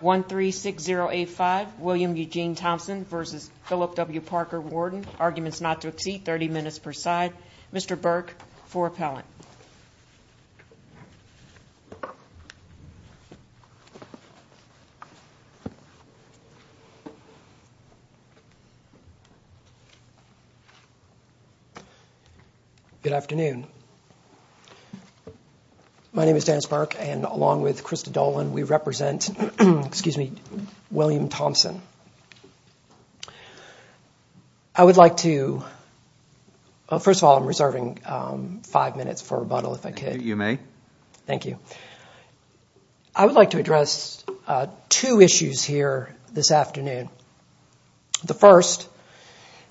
136085 William Eugene Thompson v. Philip W. Parker Warden Arguments not to exceed 30 minutes per side. Mr. Burke for appellant. Good afternoon. My name is Dennis Burke and along with Krista Dolan we represent William Thompson. I would like to, well first of all I'm reserving five minutes for rebuttal if I could. You may. Thank you. I would like to address two issues here this afternoon. The first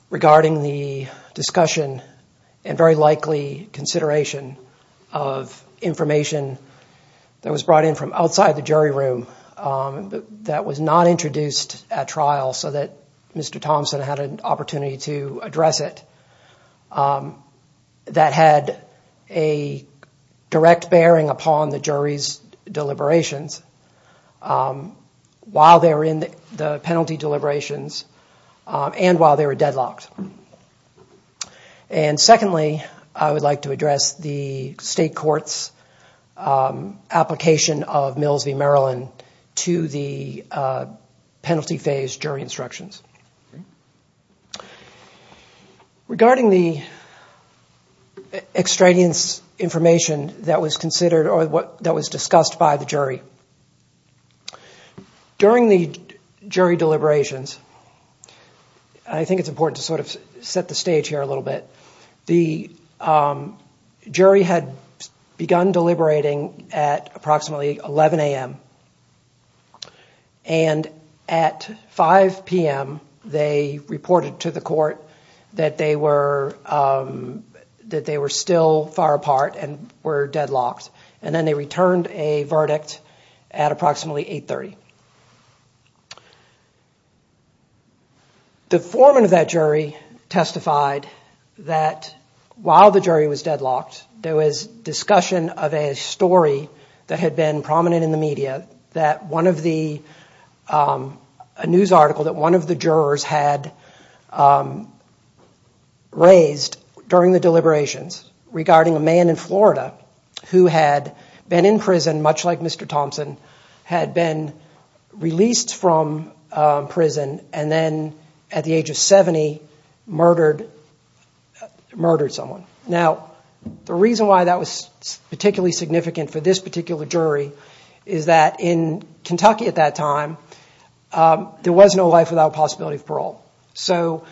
regarding the discussion and very likely consideration of information that was brought in from outside the jury room that was not introduced at trial so that Mr. Thompson had an opportunity to address it. That had a direct bearing upon the jury's deliberations while they were in the penalty deliberations and while they were deadlocked. And secondly I would like to address the state court's application of Mills v. Maryland to the penalty phase jury instructions. Regarding the extraneous information that was considered or that was discussed by the jury, during the jury deliberations I think it's important to sort of set the stage here a little bit. The jury had begun deliberating at approximately 11 a.m. and at 5 p.m. they reported to the court that they were still far apart and were deadlocked. And then they returned a verdict at approximately 8.30. The foreman of that jury testified that while the jury was deadlocked there was discussion of a story that had been prominent in the media that a news article that one of the jurors had raised during the deliberations regarding a man in Florida who had been in prison much like Mr. Thompson had been released from prison and then at the age of 70 murdered someone. Now the reason why that was particularly significant for this particular jury is that in Kentucky at that time there was no life without possibility of parole. So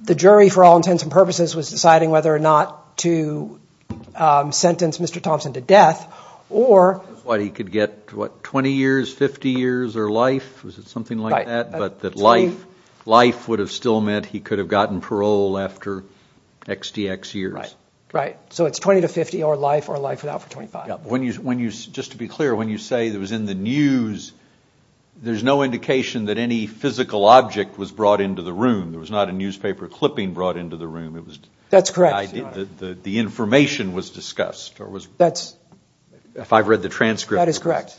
the jury for all intents and purposes was deciding whether or not to sentence Mr. Thompson to death or... That's why he could get 20 years, 50 years or life, was it something like that? But that life would have still meant he could have gotten parole after XTX years. Right. So it's 20 to 50 or life or life without for 25. Just to be clear, when you say it was in the news, there's no indication that any physical object was brought into the room. There was not a newspaper clipping brought into the room. That's correct. The information was discussed. That's... If I've read the transcript. That is correct.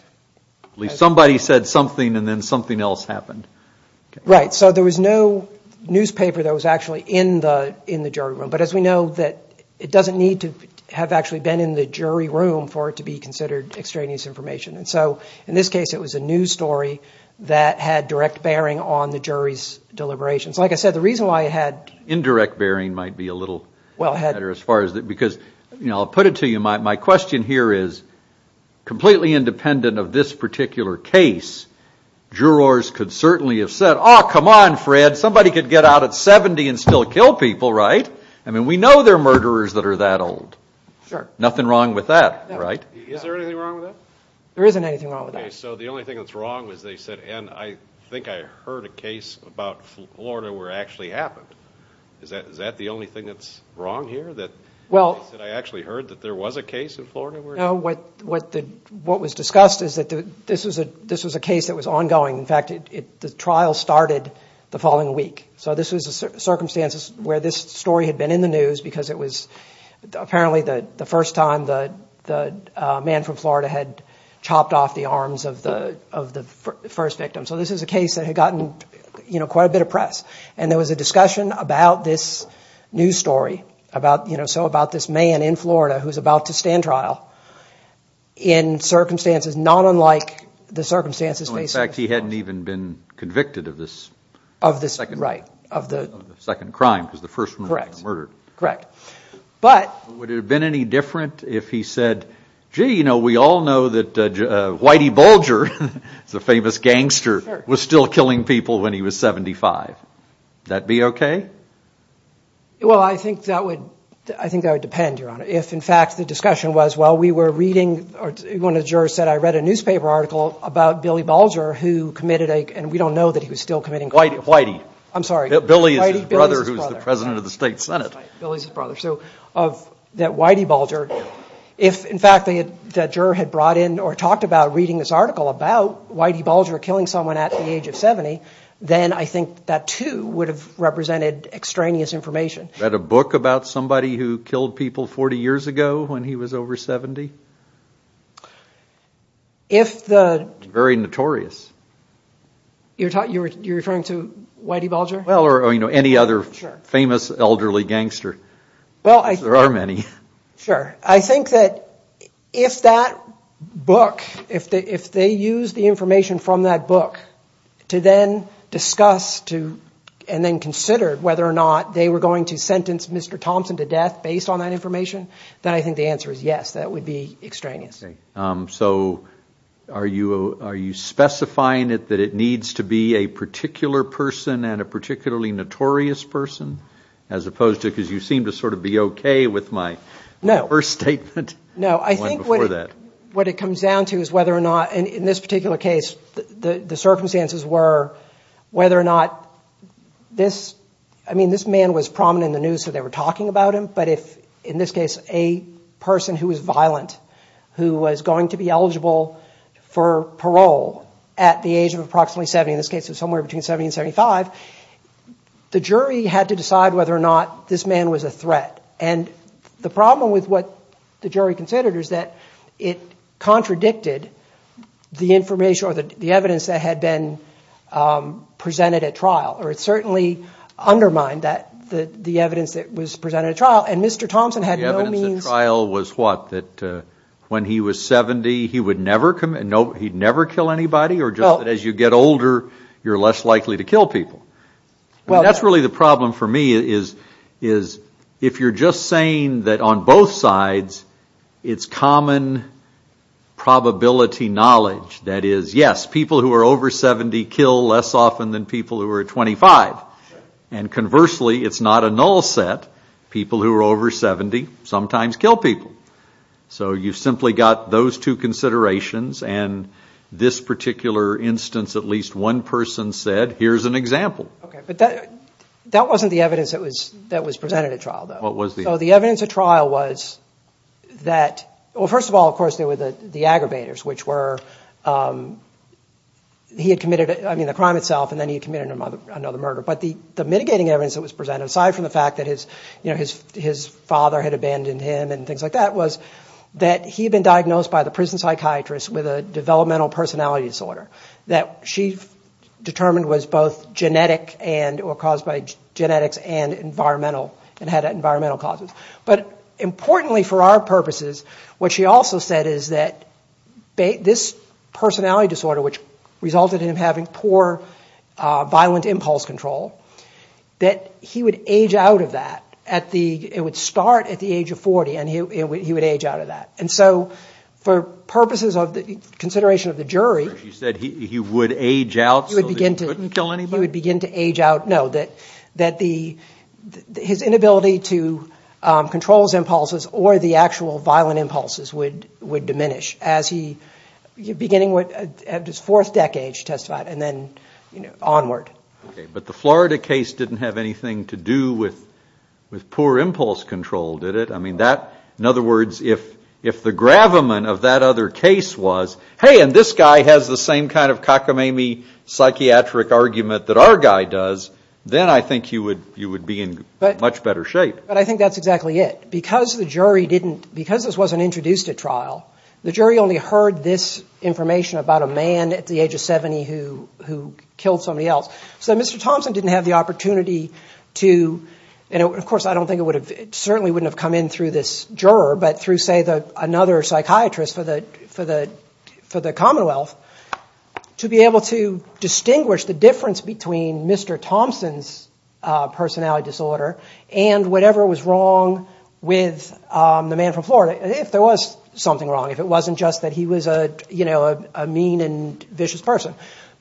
Somebody said something and then something else happened. Right. So there was no newspaper that was actually in the jury room. But as we know that it doesn't need to have actually been in the jury room for it to be considered extraneous information. And so in this case it was a news story that had direct bearing on the jury's deliberations. Like I said, the reason why it had... Indirect bearing might be a little better as far as... Because, you know, I'll put it to you. My question here is completely independent of this particular case, jurors could certainly have said, oh, come on, Fred, somebody could get out at 70 and still kill people, right? I mean, we know there are murderers that are that old. Sure. Nothing wrong with that, right? Is there anything wrong with that? There isn't anything wrong with that. Okay, so the only thing that's wrong is they said, and I think I heard a case about Florida where it actually happened. Is that the only thing that's wrong here? Well... That I actually heard that there was a case in Florida where... No, what was discussed is that this was a case that was ongoing. In fact, the trial started the following week. So this was the circumstances where this story had been in the news because it was apparently the first time the man from Florida had chopped off the arms of the first victim. So this is a case that had gotten, you know, quite a bit of press. And there was a discussion about this news story about, you know, so about this man in Florida who's about to stand trial in circumstances not unlike the circumstances... In fact, he hadn't even been convicted of this... Of this, right, of the... Second crime, because the first one was murdered. Correct. But... Would it have been any different if he said, gee, you know, we all know that Whitey Bulger, the famous gangster, was still killing people when he was 75. Would that be okay? Well, I think that would depend, Your Honor. If, in fact, the discussion was, well, we were reading, one of the jurors said, I read a newspaper article about Billy Bulger who committed a, and we don't know that he was still committing crimes. Whitey. I'm sorry. Billy is his brother who's the President of the State Senate. Billy's his brother. So that Whitey Bulger, if, in fact, the juror had brought in or talked about reading this article about Whitey Bulger killing someone at the age of 70, then I think that, too, would have represented extraneous information. Read a book about somebody who killed people 40 years ago when he was over 70? If the... Very notorious. You're referring to Whitey Bulger? Well, or, you know, any other famous elderly gangster. Well, I... There are many. Sure. I think that if that book, if they used the information from that book to then discuss and then consider whether or not they were going to sentence Mr. Thompson to death based on that information, then I think the answer is yes, that would be extraneous. Okay. So are you specifying that it needs to be a particular person and a particularly notorious person? As opposed to, because you seem to sort of be okay with my first statement. No, I think what it comes down to is whether or not, in this particular case, the circumstances were whether or not this, I mean, this man was prominent in the news so they were talking about him, but if, in this case, a person who was violent who was going to be eligible for parole at the age of approximately 70, in this case it was somewhere between 70 and 75, the jury had to decide whether or not this man was a threat. And the problem with what the jury considered is that it contradicted the information or the evidence that had been presented at trial, or it certainly undermined the evidence that was presented at trial, and Mr. Thompson had no means... The evidence at trial was what, that when he was 70 he would never kill anybody or just that as you get older you're less likely to kill people? That's really the problem for me is if you're just saying that on both sides it's common probability knowledge that is, yes, people who are over 70 kill less often than people who are 25. And conversely, it's not a null set. People who are over 70 sometimes kill people. So you've simply got those two considerations and this particular instance at least one person said, here's an example. Okay, but that wasn't the evidence that was presented at trial, though. What was the evidence? So the evidence at trial was that, well, first of all, of course, there were the aggravators, which were he had committed, I mean, the crime itself, and then he had committed another murder. But the mitigating evidence that was presented, aside from the fact that his father had abandoned him and things like that, was that he had been diagnosed by the prison psychiatrist with a developmental personality disorder that she determined was both genetic or caused by genetics and had environmental causes. But importantly for our purposes, what she also said is that this personality disorder, which resulted in him having poor violent impulse control, that he would age out of that. It would start at the age of 40 and he would age out of that. And so for purposes of consideration of the jury, she said he would age out so that he couldn't kill anybody? He would begin to age out. No, that his inability to control his impulses or the actual violent impulses would diminish, beginning at his fourth decade, she testified, and then onward. Okay, but the Florida case didn't have anything to do with poor impulse control, did it? I mean, in other words, if the gravamen of that other case was, hey, and this guy has the same kind of cockamamie psychiatric argument that our guy does, then I think you would be in much better shape. But I think that's exactly it. Because the jury didn't, because this wasn't introduced at trial, the jury only heard this information about a man at the age of 70 who killed somebody else. So Mr. Thompson didn't have the opportunity to, and of course, I don't think it would have, it certainly wouldn't have come in through this juror, but through, say, another psychiatrist for the Commonwealth, to be able to distinguish the difference between Mr. Thompson's personality disorder and whatever was wrong with the man from Florida, if there was something wrong, if it wasn't just that he was a mean and vicious person.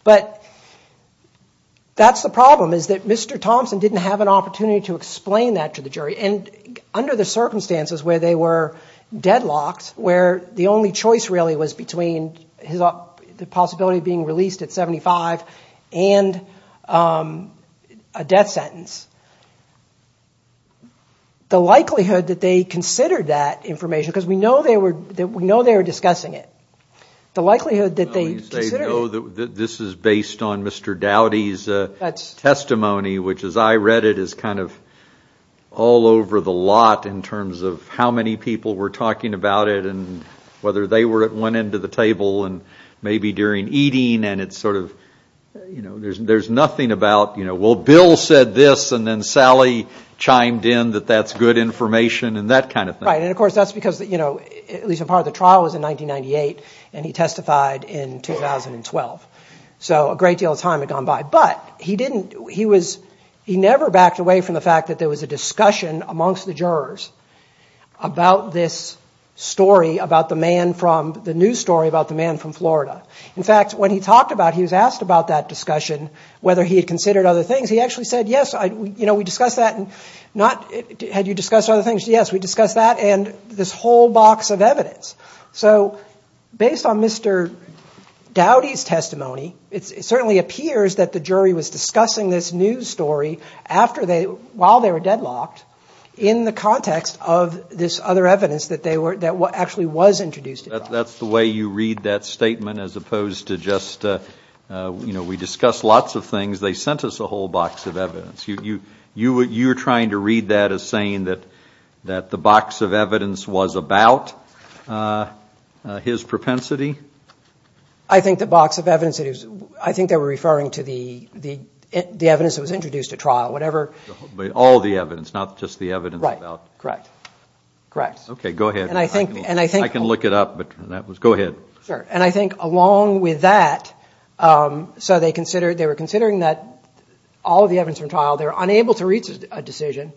But that's the problem, is that Mr. Thompson didn't have an opportunity to explain that to the jury. And under the circumstances where they were deadlocked, where the only choice really was between the possibility of being released at 75 and a death sentence, the likelihood that they considered that information, because we know they were discussing it, the likelihood that they considered it. I mean, this jury's testimony, which as I read it, is kind of all over the lot in terms of how many people were talking about it and whether they were at one end of the table and maybe during eating, and it's sort of, you know, there's nothing about, well, Bill said this and then Sally chimed in that that's good information and that kind of thing. Right, and of course, that's because, you know, at least a part of the trial was in 1998, and he testified in 2012. So a great deal of time had gone by. But he didn't, he was, he never backed away from the fact that there was a discussion amongst the jurors about this story, about the man from, the news story about the man from Florida. In fact, when he talked about it, he was asked about that discussion, whether he had considered other things. He actually said, yes, you know, we discussed that and not, had you discussed other things? So based on Mr. Dowdy's testimony, it certainly appears that the jury was discussing this news story after they, while they were deadlocked, in the context of this other evidence that they were, that actually was introduced. That's the way you read that statement as opposed to just, you know, we discussed lots of things, they sent us a whole box of evidence. You're trying to read that as saying that the box of evidence was about his propensity? I think the box of evidence, I think they were referring to the evidence that was introduced at trial, whatever. All the evidence, not just the evidence about. Right, correct, correct. Okay, go ahead. I can look it up, but that was, go ahead. Sure, and I think along with that, so they considered, they were considering that all of the evidence from trial, they were unable to reach a decision.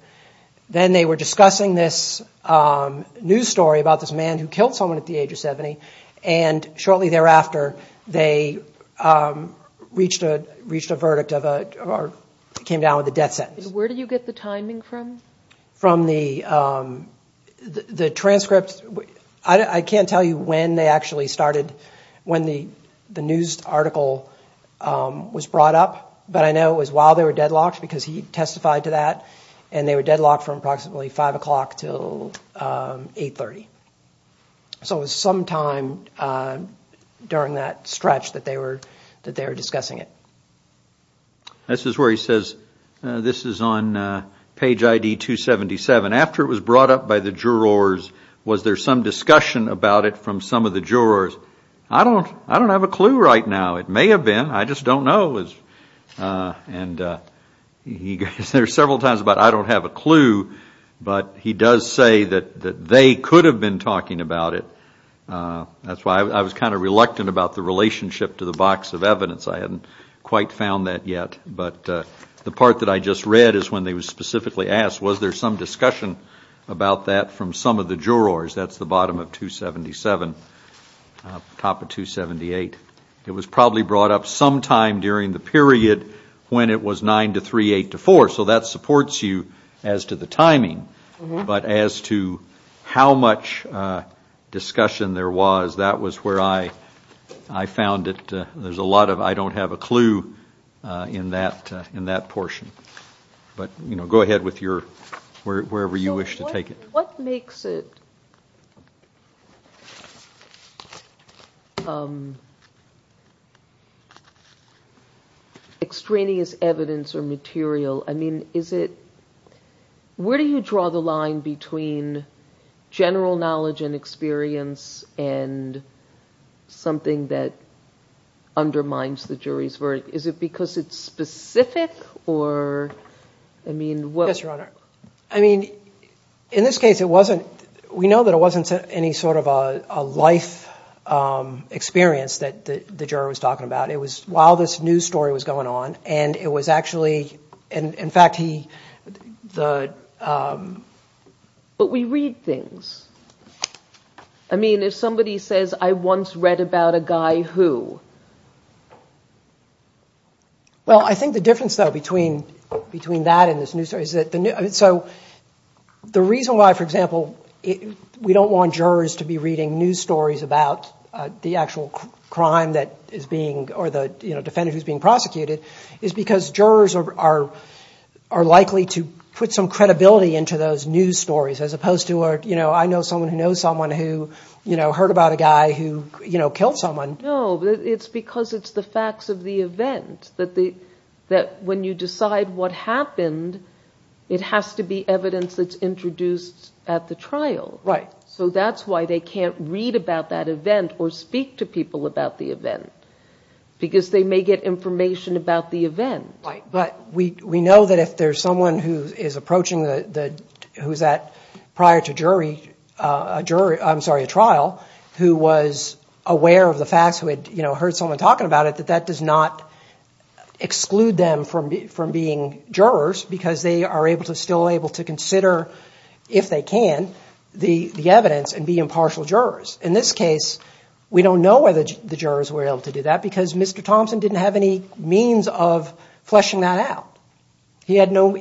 Then they were discussing this news story about this man who killed someone at the age of 70, and shortly thereafter, they reached a verdict of a, or came down with a death sentence. Where did you get the timing from? From the transcript. I can't tell you when they actually started, when the news article was brought up, but I know it was while they were deadlocked because he testified to that, and they were deadlocked from approximately 5 o'clock until 8.30. So it was sometime during that stretch that they were discussing it. This is where he says, this is on page ID 277. After it was brought up by the jurors, was there some discussion about it from some of the jurors? I don't have a clue right now. It may have been, I just don't know. And he goes there several times about I don't have a clue, but he does say that they could have been talking about it. That's why I was kind of reluctant about the relationship to the box of evidence. I hadn't quite found that yet, but the part that I just read is when they were specifically asked, was there some discussion about that from some of the jurors? That's the bottom of 277, top of 278. It was probably brought up sometime during the period when it was 9 to 3, 8 to 4, so that supports you as to the timing. But as to how much discussion there was, that was where I found it. There's a lot of I don't have a clue in that portion. But go ahead with your, wherever you wish to take it. What makes it extraneous evidence or material? Where do you draw the line between general knowledge and experience and something that undermines the jury's verdict? Is it because it's specific? Yes, Your Honor. We know that it wasn't any sort of a life experience that the juror was talking about. It was while this news story was going on. But we read things. If somebody says, I once read about a guy who... Well, I think the difference, though, between that and this news story is that the reason why, for example, we don't want jurors to be reading news stories about the actual crime that is being, or the defendant who's being prosecuted is because jurors are likely to put some credibility into those news stories as opposed to, I know someone who knows someone who heard about a guy who killed someone. No, it's because it's the facts of the event. That when you decide what happened, it has to be evidence that's introduced at the trial. So that's why they can't read about that event or speak to people about the event. Because they may get information about the event. But we know that if there's someone who is approaching the, who's at prior to jury, I'm sorry, a trial, who was aware of the facts, who had heard someone talking about it, that that does not exclude them from being jurors because they are still able to consider, if they can, the evidence and be impartial jurors. In this case, we don't know whether the jurors were able to do that because Mr. Thompson didn't have any means of fleshing that out. He had no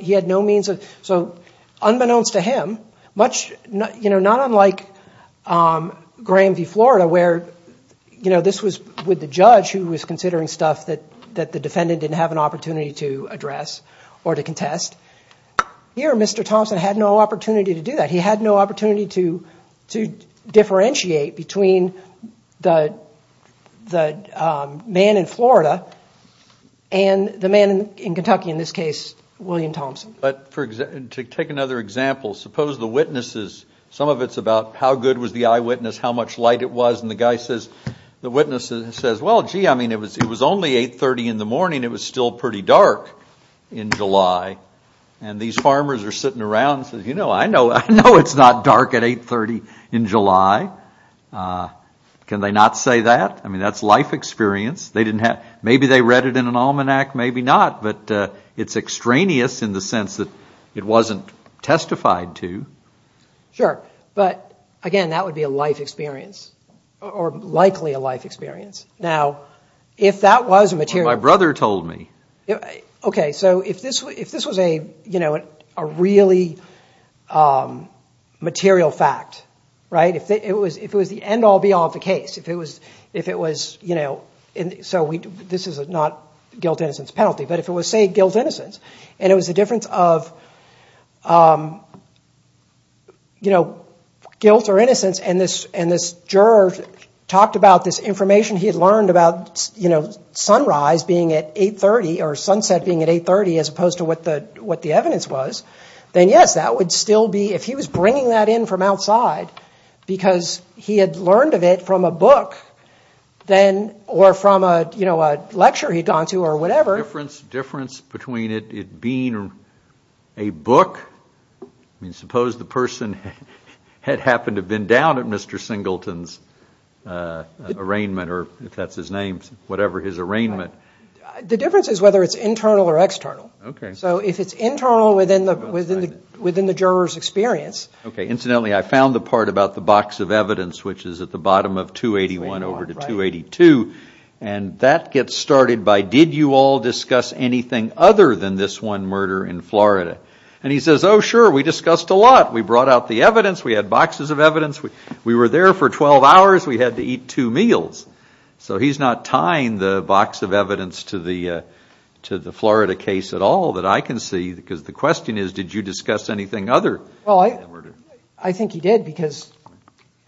means of, so unbeknownst to him, not unlike Graham v. Florida where this was with the judge who was considering stuff that the defendant didn't have an opportunity to address or to contest. Here, Mr. Thompson had no opportunity to do that. He had no opportunity to differentiate between the man in Florida and the man in Kentucky, in this case, William Thompson. But to take another example, suppose the witnesses, some of it's about how good was the eyewitness, how much light it was, and the guy says, the witness says, well, gee, I mean, it was only 830 in the morning. It was still pretty dark in July. And these farmers are sitting around and say, you know, I know it's not dark at 830 in July. Can they not say that? I mean, that's life experience. Maybe they read it in an almanac, maybe not, but it's extraneous in the sense that it wasn't testified to. Sure, but again, that would be a life experience or likely a life experience. Now, if that was a material... My brother told me. Okay, so if this was a really material fact, right? If it was the end-all, be-all of the case, if it was... This is not guilt-innocence penalty, but if it was, say, guilt-innocence, and it was the difference of guilt or innocence, and this juror talked about this information he had learned about sunrise being at 830 or something, or sunset being at 830 as opposed to what the evidence was, then yes, that would still be... If he was bringing that in from outside because he had learned of it from a book, or from a lecture he'd gone to or whatever... Difference between it being a book... I mean, suppose the person had happened to have been down at Mr. Singleton's arraignment, or if that's his name, whatever his arraignment... The difference is whether it's internal or external. Okay, incidentally, I found the part about the box of evidence, which is at the bottom of 281 over to 282, and that gets started by, did you all discuss anything other than this one murder in Florida? And he says, oh, sure, we discussed a lot. We brought out the evidence. We had boxes of evidence. We were there for 12 hours. We had to eat two meals. So he's not tying the box of evidence to the Florida case at all that I can see, because the question is, did you discuss anything other than that murder? Well, I think he did, because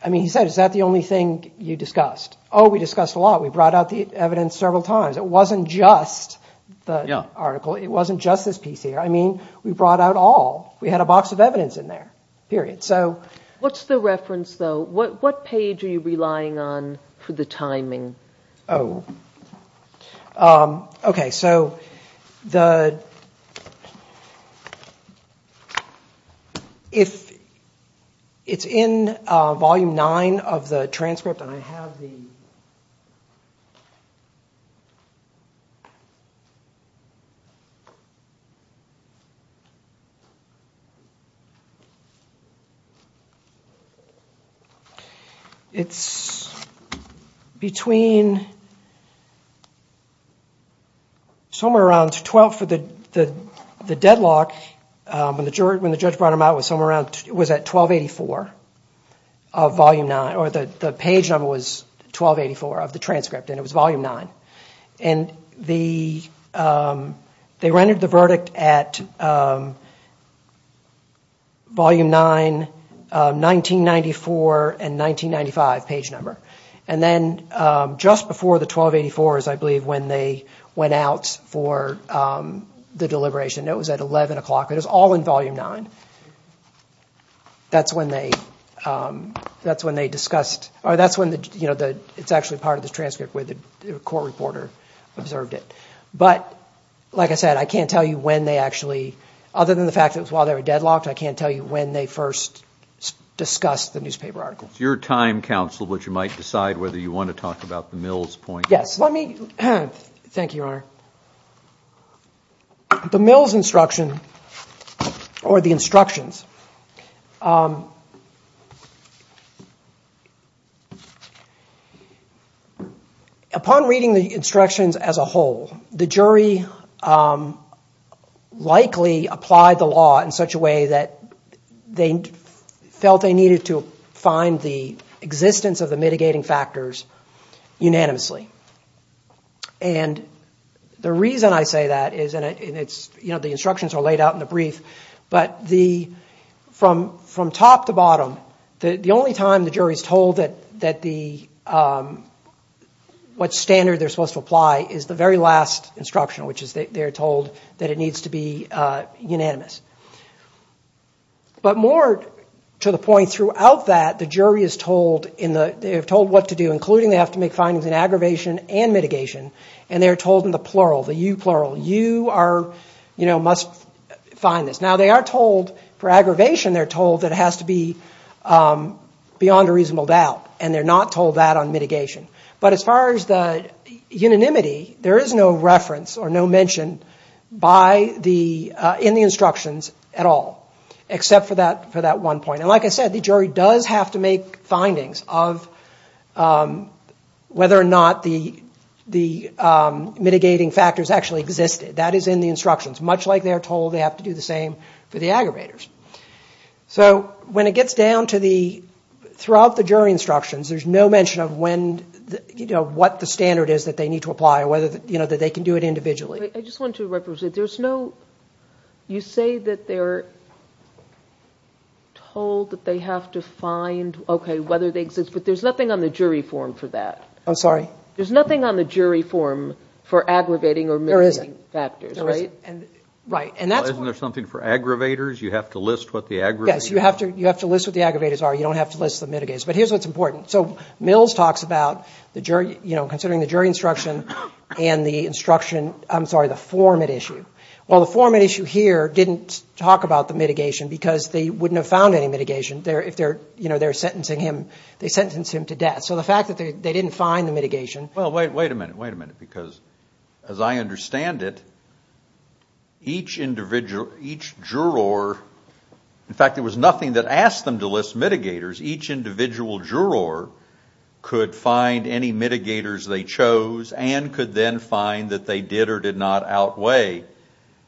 he said, is that the only thing you discussed? Oh, we discussed a lot. We brought out the evidence several times. It wasn't just the article. It wasn't just this piece here. I mean, we brought out all. We had a box of evidence in there, period. What's the reference, though? What page are you relying on for the timing? Oh, okay. It's in Volume 9 of the transcript, and I have the... It's between somewhere around 12 for the deadlock, when the judge brought them out, it was somewhere around, it was at 1284 of Volume 9, or the page number was 1284 of the transcript, and it was Volume 9. And they rendered the verdict at Volume 9, 1994, and 1995 page number. And then just before the 1284 is, I believe, when they went out for the deliberation. It was at 11 o'clock. It was all in Volume 9. That's when they discussed... It's actually part of the transcript where the court reporter observed it. But, like I said, I can't tell you when they actually, other than the fact that it was while they were deadlocked, I can't tell you when they first discussed the newspaper article. It's your time, counsel, but you might decide whether you want to talk about the Mills point. Yes, let me... Thank you, Your Honor. The Mills instruction, or the instructions... Upon reading the instructions as a whole, the jury likely applied the law in such a way that they felt they needed to find the existence of the mitigating factors unanimously. And the reason I say that is, and the instructions are laid out in the brief, but from top to bottom, the only time the jury is told what standard they're supposed to apply is the very last instruction, which is they're told that it needs to be unanimous. But more to the point, throughout that, the jury is told what to do, including they have to make findings in aggravation and mitigation, and they're told in the plural, the u-plural, you must find this. Now, for aggravation, they're told that it has to be beyond a reasonable doubt, and they're not told that on mitigation. But as far as the unanimity, there is no reference or no mention in the instructions at all, except for that one point. And like I said, the jury does have to make findings of whether or not the mitigating factors actually existed. That is in the instructions, much like they're told they have to do the same for the aggravators. So when it gets down to the... You say that they're told that they have to find, okay, whether they exist, but there's nothing on the jury form for that. There's nothing on the jury form for aggravating or mitigating factors, right? Isn't there something for aggravators? You have to list what the aggravators are. Yes, you have to list what the aggravators are. You don't have to list the mitigators. But here's what's important. So Mills talks about considering the jury instruction and the instruction, I'm sorry, the format issue. Well, the format issue here didn't talk about the mitigation, because they wouldn't have found any mitigation if they're sentencing him. They sentenced him to death. So the fact that they didn't find the mitigation... The individual juror could find any mitigators they chose and could then find that they did or did not outweigh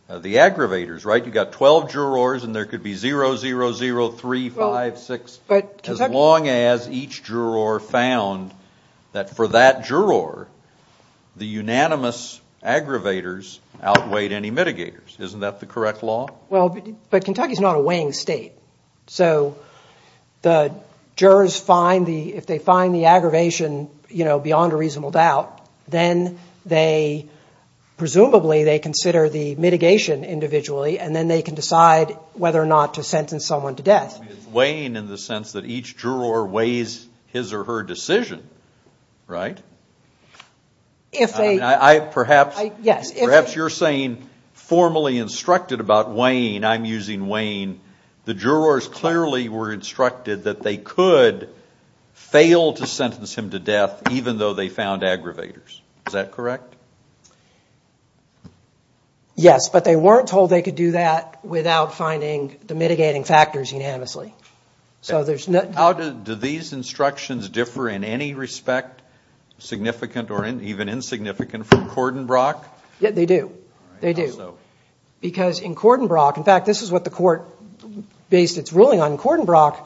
the aggravators, right? You've got 12 jurors and there could be 0, 0, 0, 3, 5, 6... As long as each juror found that for that juror, the unanimous aggravators outweighed any mitigators. Isn't that the correct law? Well, but Kentucky's not a weighing state. So the jurors, if they find the aggravation beyond a reasonable doubt, then presumably they consider the mitigation individually, and then they can decide whether or not to sentence someone to death. It's weighing in the sense that each juror weighs his or her decision, right? Perhaps you're saying formally instructed about weighing, I'm using weighing, the jurors clearly were instructed that they could fail to sentence him to death even though they found aggravators. Is that correct? Yes, but they weren't told they could do that without finding the mitigating factors unanimously. How do these instructions differ in any respect, significant or even insignificant, from Cordenbrock? Yeah, they do. They do. Because in Cordenbrock, in fact, this is what the court based its ruling on. In Cordenbrock,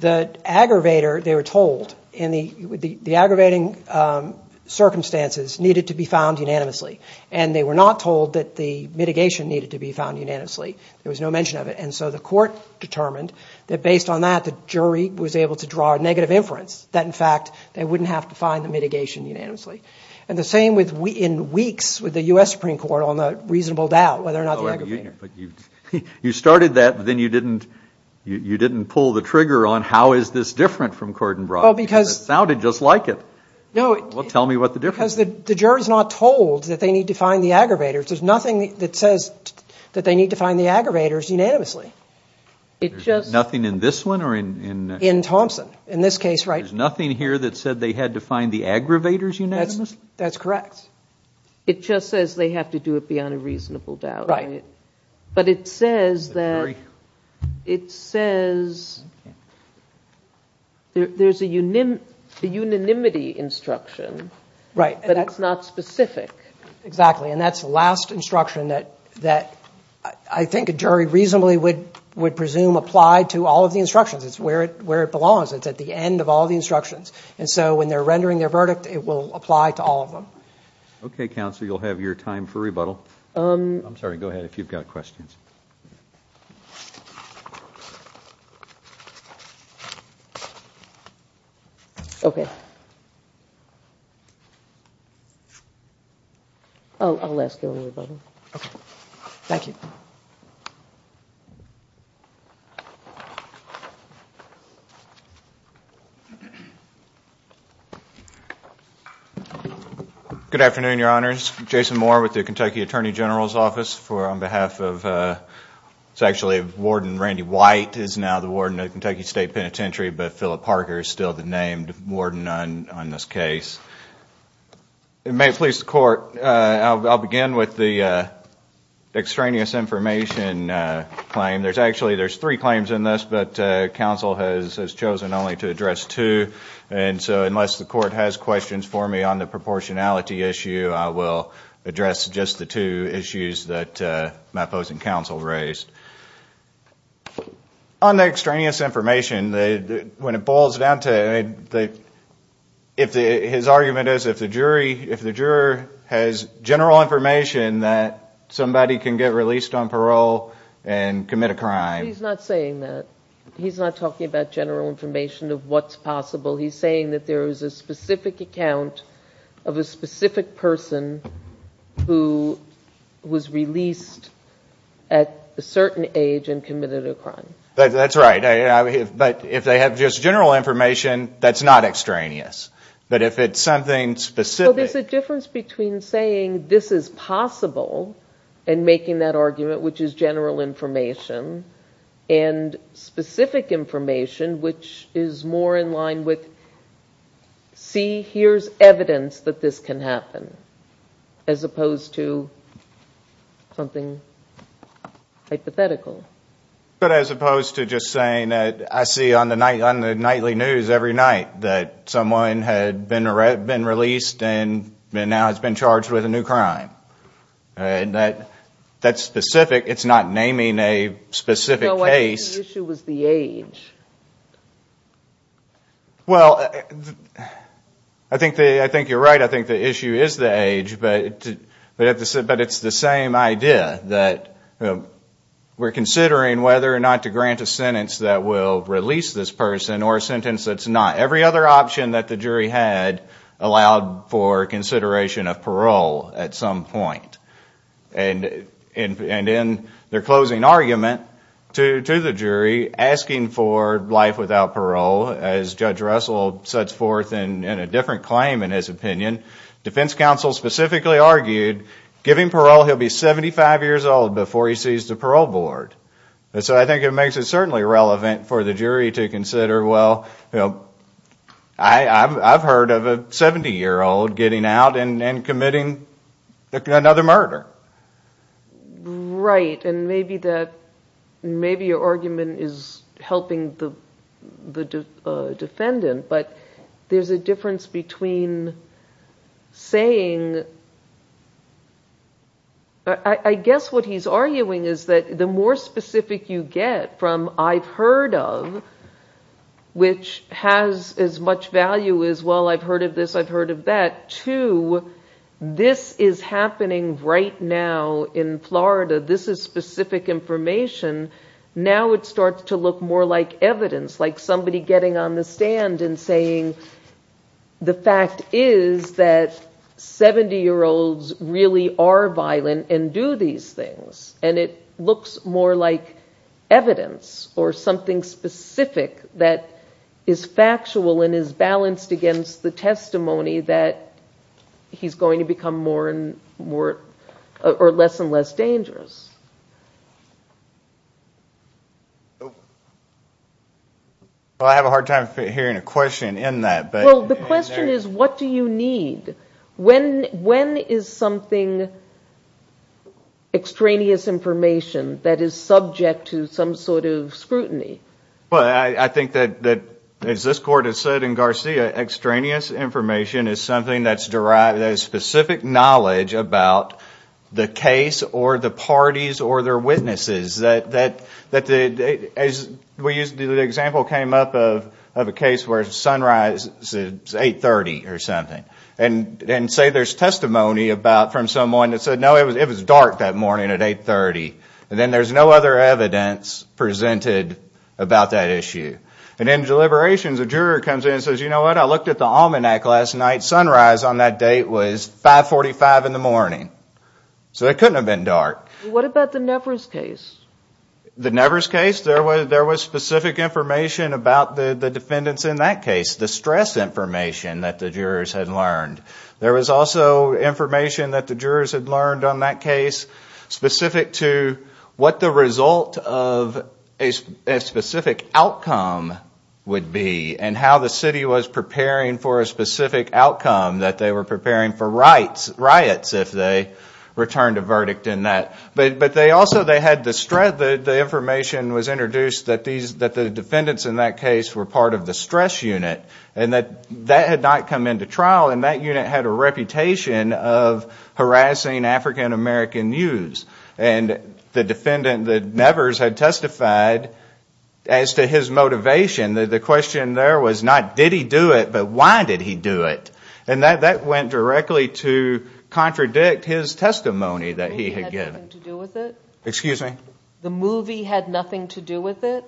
the aggravator, they were told, the aggravating circumstances needed to be found unanimously, and they were not told that the mitigation needed to be found unanimously. There was no mention of it. And so the court determined that based on that, the jury was able to draw a negative inference, that in fact they wouldn't have to find the mitigation unanimously. And the same in weeks with the U.S. Supreme Court on the reasonable doubt whether or not the aggravating. You started that, but then you didn't pull the trigger on how is this different from Cordenbrock. It sounded just like it. Well, tell me what the difference is. Because the jury is not told that they need to find the aggravators. There's nothing that says that they need to find the aggravators unanimously. Nothing in this one or in Thompson? In this case, right. There's nothing here that said they had to find the aggravators unanimously? That's correct. It just says they have to do it beyond a reasonable doubt. Right. But it says that it says there's a unanimity instruction. Right. But that's not specific. Exactly. And that's the last instruction that I think a jury reasonably would presume applied to all of the instructions. It's where it belongs. It's at the end of all the instructions. And so when they're rendering their verdict, it will apply to all of them. OK, counsel, you'll have your time for rebuttal. I'm sorry. Go ahead. If you've got questions. OK. Oh, I'll ask you. Thank you. Good afternoon, your honors. Jason Moore with the Kentucky Attorney General's office for on behalf of it's actually Warden Randy White is now the warden of Kentucky State Penitentiary. But Philip Parker is still the named warden on this case. It may please the court. I'll begin with the extraneous information claim. There's actually there's three claims in this, but counsel has chosen only to address two. And so unless the court has questions for me on the proportionality issue, I will address just the two issues that my foes and counsel raised on the extraneous information. When it boils down to the if his argument is if the jury if the juror has general information that somebody can get released on parole and commit a crime. He's not saying that he's not talking about general information of what's possible. He's saying that there is a specific account of a specific person who was released at a certain age and committed a crime. That's right. But if they have just general information, that's not extraneous. But if it's something specific, there's a difference between saying this is possible and making that argument, which is general information, and specific information, which is more in line with see, here's evidence that this can happen. As opposed to something hypothetical. But as opposed to just saying that I see on the nightly news every night that someone had been released and now has been charged with a new crime. That's specific. It's not naming a specific case. Well, I think you're right. I think the issue is the age. But it's the same idea that we're considering whether or not to grant a sentence that will release this person or a sentence that's not. Every other option that the jury had allowed for consideration of parole at some point. And in their closing argument to the jury, asking for life without parole, as Judge Russell sets forth in a different claim in his opinion, defense counsel specifically argued giving parole, he'll be 75 years old before he sees the parole board. So I think it makes it certainly relevant for the jury to consider, well, I've heard of a 70 year old getting out and committing another murder. Right. And maybe your argument is helping the defendant. But there's a difference between saying I guess what he's arguing is that the more specific you get from I've heard of, which has as much value as, well, I've heard of this, I've heard of that, to this is happening right now in Florida. This is specific information. Now it starts to look more like evidence, like somebody getting on the stand and saying the fact is that 70 year olds really are violent and do these things. And it looks more like evidence or something specific that is factual and is balanced against the testimony that he's going to become more and more or less and less dangerous. Well, I have a hard time hearing a question in that. Well, the question is, what do you need? When is something extraneous information that is subject to some sort of scrutiny? Well, I think that as this court has said in Garcia, extraneous information is something that is specific knowledge about the case or the parties or their witnesses. The example came up of a case where the sun rises at 830 or something. And say there's testimony from someone that said, no, it was dark that morning at 830. And then there's no other evidence presented about that issue. And in deliberations, a juror comes in and says, you know what? I looked at the almanac last night. Sunrise on that date was 545 in the morning. So it couldn't have been dark. What about the Nevers case? The Nevers case? There was specific information about the defendants in that case, the stress information that the jurors had learned. There was also information that the jurors had learned on that case specific to what the result of a specific outcome would be and how the city was preparing for a specific outcome, that they were preparing for riots if they returned a verdict in that. But they also had the information was introduced that the defendants in that case were part of the stress unit. And that that had not come into trial. And that unit had a reputation of harassing African-American youths. And the defendant, the Nevers, had testified as to his motivation. The question there was not, did he do it? But why did he do it? And that went directly to contradict his testimony that he had given. The movie had nothing to do with it?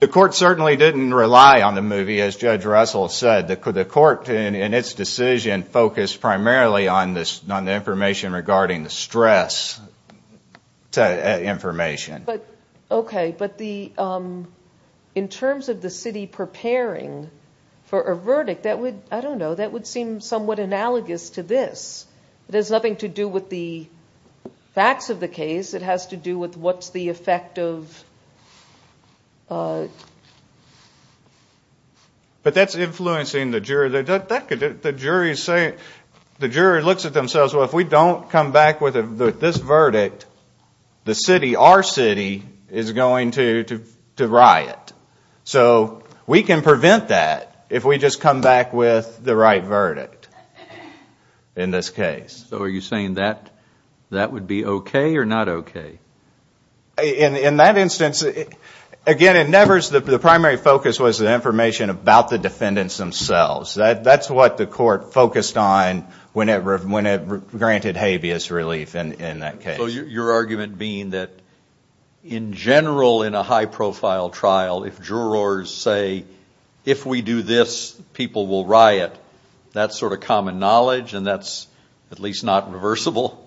The court certainly didn't rely on the movie, as Judge Russell said. The court, in its decision, focused primarily on the information regarding the stress information. In terms of the city preparing for a verdict, that would seem somewhat analogous to this. It has nothing to do with the facts of the case. It has to do with what's the effect of... But that's influencing the jury. The jury looks at themselves, well, if we don't come back with this verdict, the city, our city, is going to riot. So we can prevent that if we just come back with the right verdict in this case. In that instance, again, the primary focus was the information about the defendants themselves. That's what the court focused on when it granted habeas relief in that case. So your argument being that in general in a high profile trial, if jurors say, if we do this, people will riot, that's sort of common knowledge and that's at least not reversible?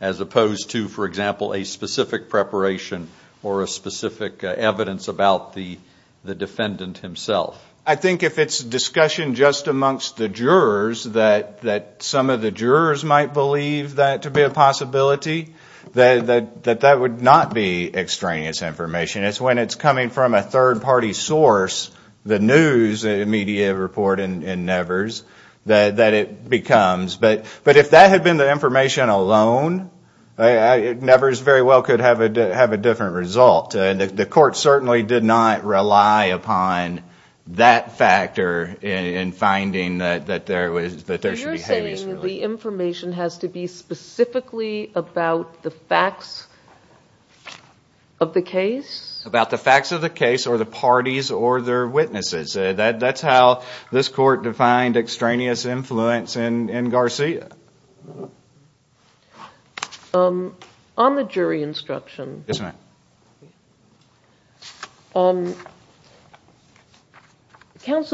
As opposed to, for example, a specific preparation or a specific evidence about the defendant himself? I think if it's discussion just amongst the jurors, that some of the jurors might believe that to be a possibility, that that would not be extraneous information. It's when it's coming from a third party source, the news, the media reporting in Nevers, that it becomes. But if that had been the information alone, Nevers very well could have a different result. The court certainly did not rely upon that factor in finding that there should be habeas relief. You're saying the information has to be specifically about the facts of the case? About the facts of the case or the parties or their witnesses. That's how this court defined extraneous influence in Garcia. On the jury instruction, counsel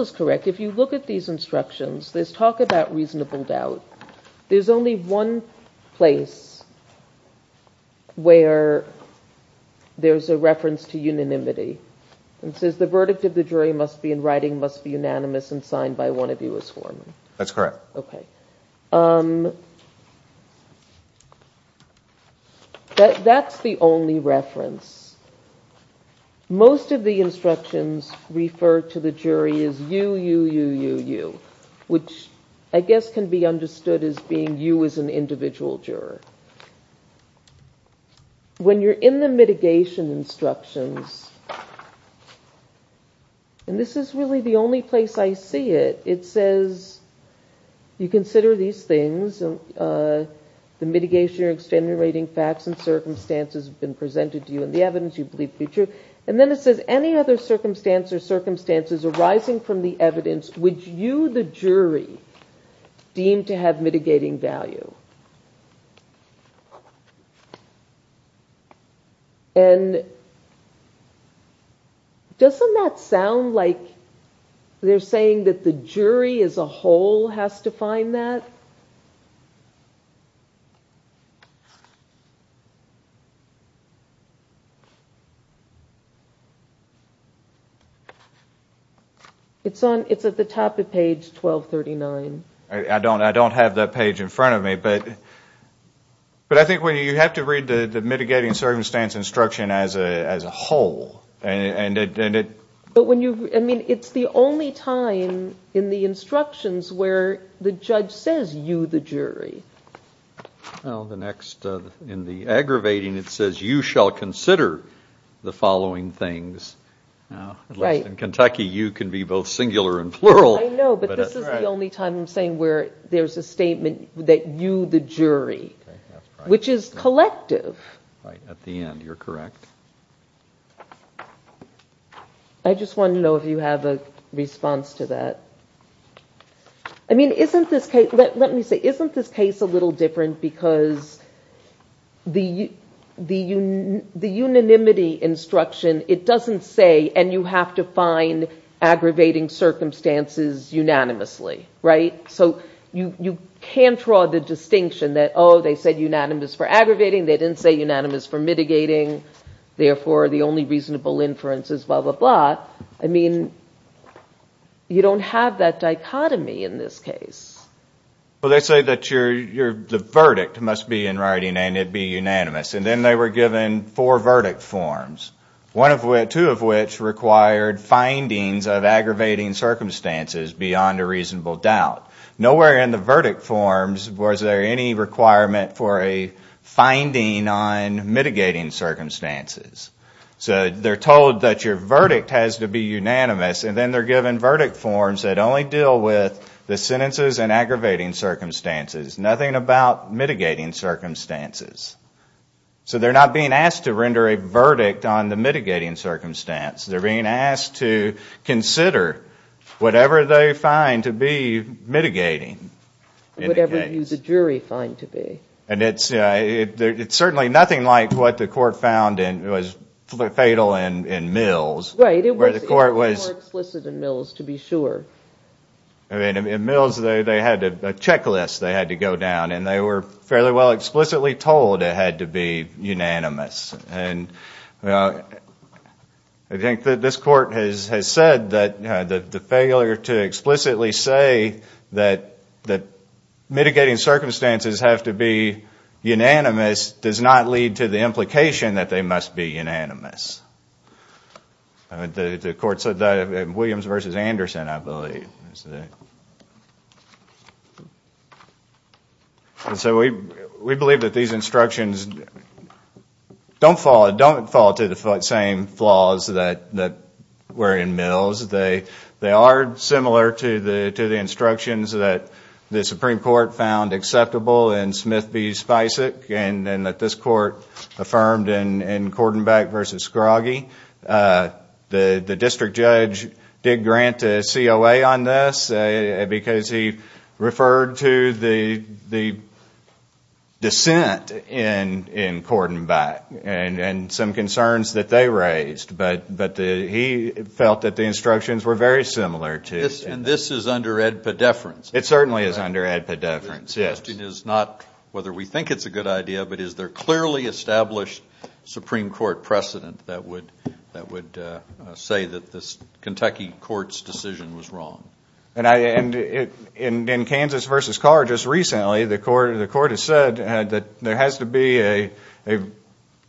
is correct. If you look at these instructions, there's talk about reasonable doubt. There's only one place where there's a reference to unanimity. It says the verdict of the jury must be in writing, must be unanimous and that's what one of you is forming. That's correct. That's the only reference. Most of the instructions refer to the jury as you, you, you, you, you, which I guess can be understood as being you as an individual juror. When you're in the mitigation instructions, and this is really the only place I see it, it says you consider these things, the mitigation or extenuating facts and circumstances have been presented to you and the evidence you believe to be true. And then it says any other circumstance or circumstances arising from the evidence, would you, the jury, deem to have mitigating value? And doesn't that sound like they're saying that the jury as a whole has to find that? It's at the top of page 1239. I don't have that page in front of me, but I think you have to read the mitigating circumstance instruction as a whole. It's the only time in the instructions where the judge says you, the jury. In the aggravating it says you shall consider the following things. In Kentucky, you can be both singular and plural. I know, but this is the only time I'm saying where there's a statement that you, the jury, which is collective. At the end, you're correct. I just want to know if you have a response to that. I mean, isn't this case, let me say, isn't this case a little different because the unanimity instruction, it doesn't say, and you have to find aggravating circumstances unanimously, right? So you can't draw the distinction that, oh, they said unanimous for aggravating, they didn't say unanimous for mitigating, therefore the only reasonable inference is blah, blah, blah. I mean, you don't have that dichotomy in this case. Well, they say that the verdict must be in writing and it be unanimous. And then they were given four verdict forms, two of which required findings of aggravating circumstances beyond a reasonable doubt. Nowhere in the verdict forms was there any requirement for a finding on mitigating circumstances. So they're told that your verdict has to be unanimous, and then they're given verdict forms that only deal with the sentences and aggravating circumstances. Nothing about mitigating circumstances. So they're not being asked to render a verdict on the mitigating circumstance. They're being asked to consider whatever they find to be mitigating. Whatever you, the jury, find to be. And it's certainly nothing like what the court found was fatal in Mills. Right, it was more explicit in Mills, to be sure. In Mills, they had a checklist they had to go down, and they were fairly well explicitly told it had to be unanimous. I think that this court has said that the failure to explicitly say that mitigating circumstances have to be unanimous does not lead to the implication that they must be unanimous. The court said that in Williams v. Anderson, I believe. And so we believe that these instructions don't fall to the same flaws that were in Mills. They are similar to the instructions that the Supreme Court found acceptable in Smith v. Spicek, and that this court affirmed in Cordenbeck v. Scroggie. The district judge did grant a COA on this because he referred to the dissent in Cordenbeck, and some concerns that they raised. But he felt that the instructions were very similar. And this is under Ed Pedefrance. The question is not whether we think it's a good idea, but is there clearly established Supreme Court precedent that would say that this Kentucky court's decision was wrong. And in Kansas v. Carr, just recently, the court has said that there has to be a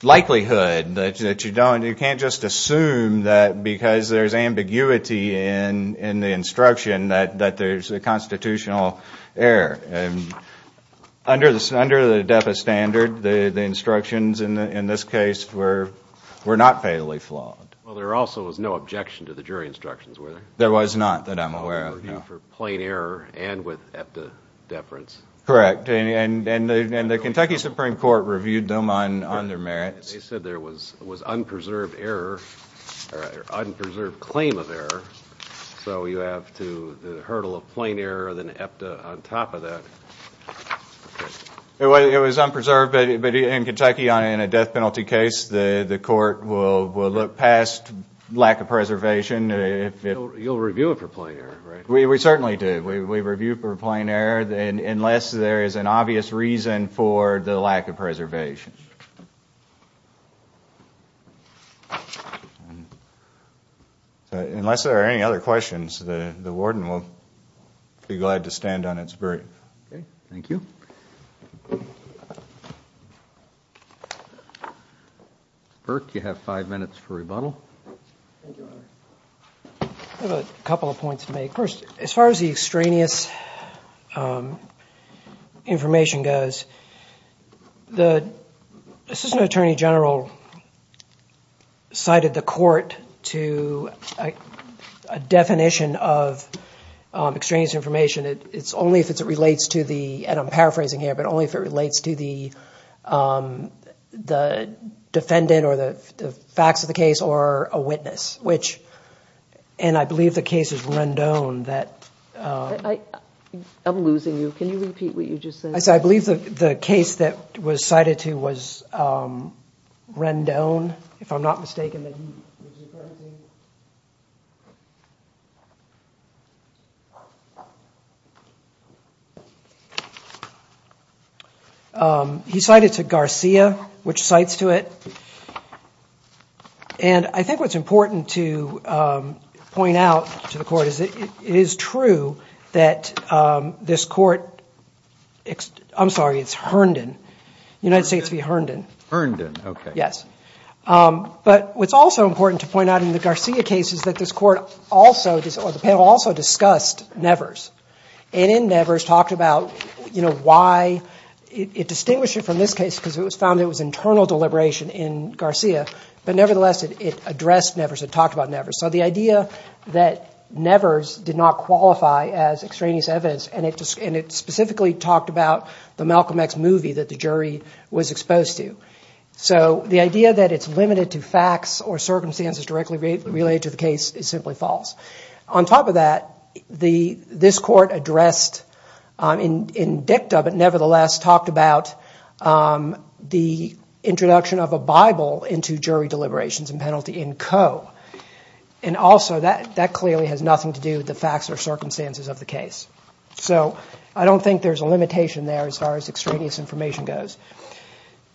likelihood that you don't. You can't just assume that because there's ambiguity in the instruction that there's a constitutional error. Under the DEFA standard, the instructions in this case were not fatally flawed. Well, there also was no objection to the jury instructions, were there? There was not that I'm aware of, no. Correct. And the Kentucky Supreme Court reviewed them on their merits. They said there was unpreserved claim of error. So you have the hurdle of plain error, then EPTA on top of that. It was unpreserved, but in Kentucky, in a death penalty case, the court will look past lack of preservation. You'll review it for plain error, right? We certainly do. We review it for plain error unless there is an obvious reason for the lack of preservation. Unless there are any other questions, the warden will be glad to stand on its berth. Okay. Thank you. Burke, you have five minutes for rebuttal. I have a couple of points to make. First, as far as the extraneous information goes, the assistant attorney general cited the court to a definition of extraneous information. It's only if it relates to the, and I'm paraphrasing here, but only if it relates to the defendant or the facts of the case or a witness. And I believe the case is Rendon. I'm losing you. Can you repeat what you just said? I believe the case that was cited to was Rendon, if I'm not mistaken. He cited to Garcia, which cites to it. And I think what's important to point out to the court is that it is true that this court, I'm sorry, it's Herndon, United States v. Herndon. But what's also important to point out in the Garcia case is that this court also, or the panel also discussed Nevers. And in Nevers talked about why, it distinguished it from this case because it was found it was internal deliberation in Nevers. In Garcia, but nevertheless it addressed Nevers, it talked about Nevers. So the idea that Nevers did not qualify as extraneous evidence, and it specifically talked about the Malcolm X movie that the jury was exposed to. So the idea that it's limited to facts or circumstances directly related to the case is simply false. On top of that, this court addressed, in Dicta, but nevertheless talked about the introduction of a bias in the case. And also that clearly has nothing to do with the facts or circumstances of the case. So I don't think there's a limitation there as far as extraneous information goes.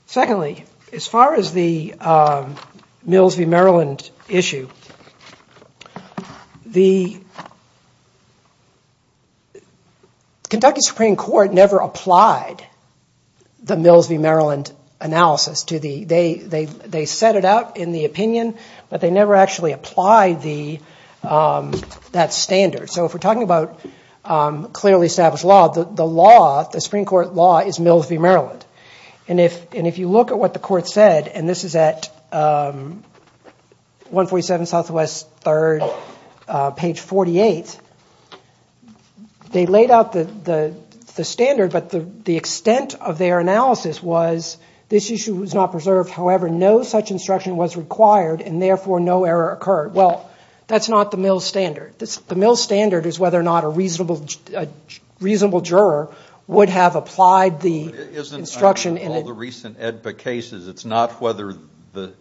Secondly, as far as the Mills v. Maryland issue, the Kentucky Supreme Court never applied the Mills v. Maryland analysis to the, they set it out in the opinion, but they never actually applied that standard. So if we're talking about clearly established law, the law, the Supreme Court law is Mills v. Maryland. And if you look at what the court said, and this is at 147 Southwest 3rd, page 48, they laid out the standard, but the extent of their analysis was this issue was not preserved, however no such instruction was required, and therefore no error occurred. Well, that's not the Mills standard. The Mills standard is whether or not a reasonable juror would have applied the instruction. It's not whether the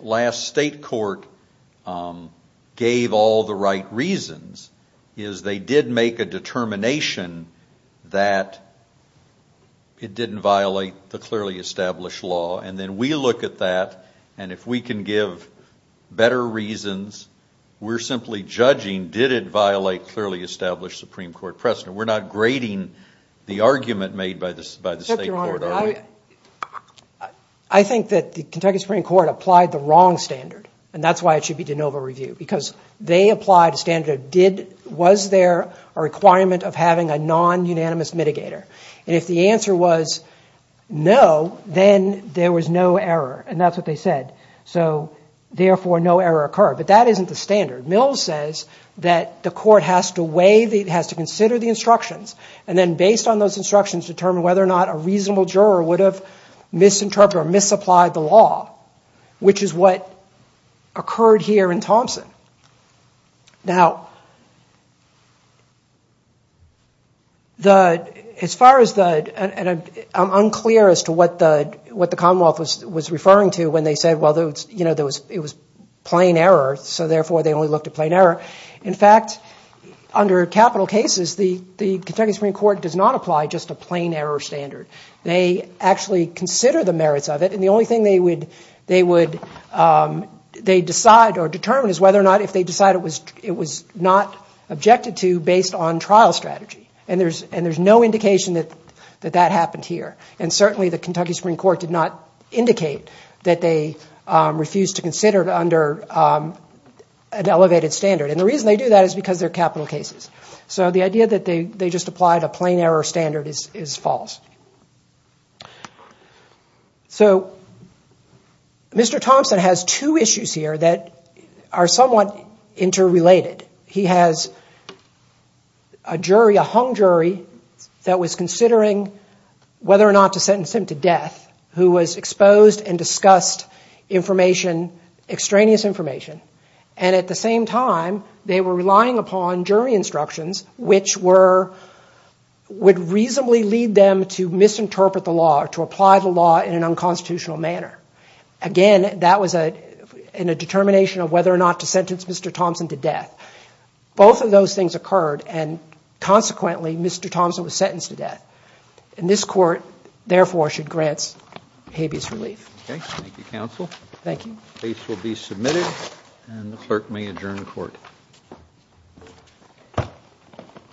last state court gave all the right reasons. They did make a determination that it didn't violate the law, the clearly established law, and then we look at that, and if we can give better reasons, we're simply judging did it violate clearly established Supreme Court precedent. We're not grading the argument made by the state court. I think that the Kentucky Supreme Court applied the wrong standard, and that's why it should be de novo reviewed, because they applied a standard of was there a requirement of having a non-unanimous mitigator. And if the answer was no, then there was no error, and that's what they said. So therefore no error occurred, but that isn't the standard. Mills says that the court has to weigh, has to consider the instructions, and then based on those instructions determine whether or not a reasonable juror would have misinterpreted or misapplied the law, which is what occurred here in Thompson. Now, as far as the, and I'm unclear as to what the Commonwealth was referring to when they said, well, it was plain error, so therefore they only looked at plain error. In fact, under capital cases, the Kentucky Supreme Court does not apply just a plain error standard. They actually consider the merits of it, and the only thing they would decide or determine is whether or not if they decide it was not objected to based on trial strategy. And there's no indication that that happened here, and certainly the Kentucky Supreme Court did not indicate that they refused to consider it under an elevated standard. And the reason they do that is because they're capital cases. So the idea that they just applied a plain error standard is false. So Mr. Thompson has two issues here that are somewhat interrelated. He has a jury, a hung jury, that was considering whether or not to sentence him to death, who was exposed and discussed information, extraneous information. And at the same time, they were relying upon jury instructions, which were, would reasonably lead them to misinterpret the law or to apply the law in an unconstitutional manner. Again, that was in a determination of whether or not to sentence Mr. Thompson to death. Both of those things occurred, and consequently, Mr. Thompson was sentenced to death. And this Court, therefore, should grant habeas relief. Thank you.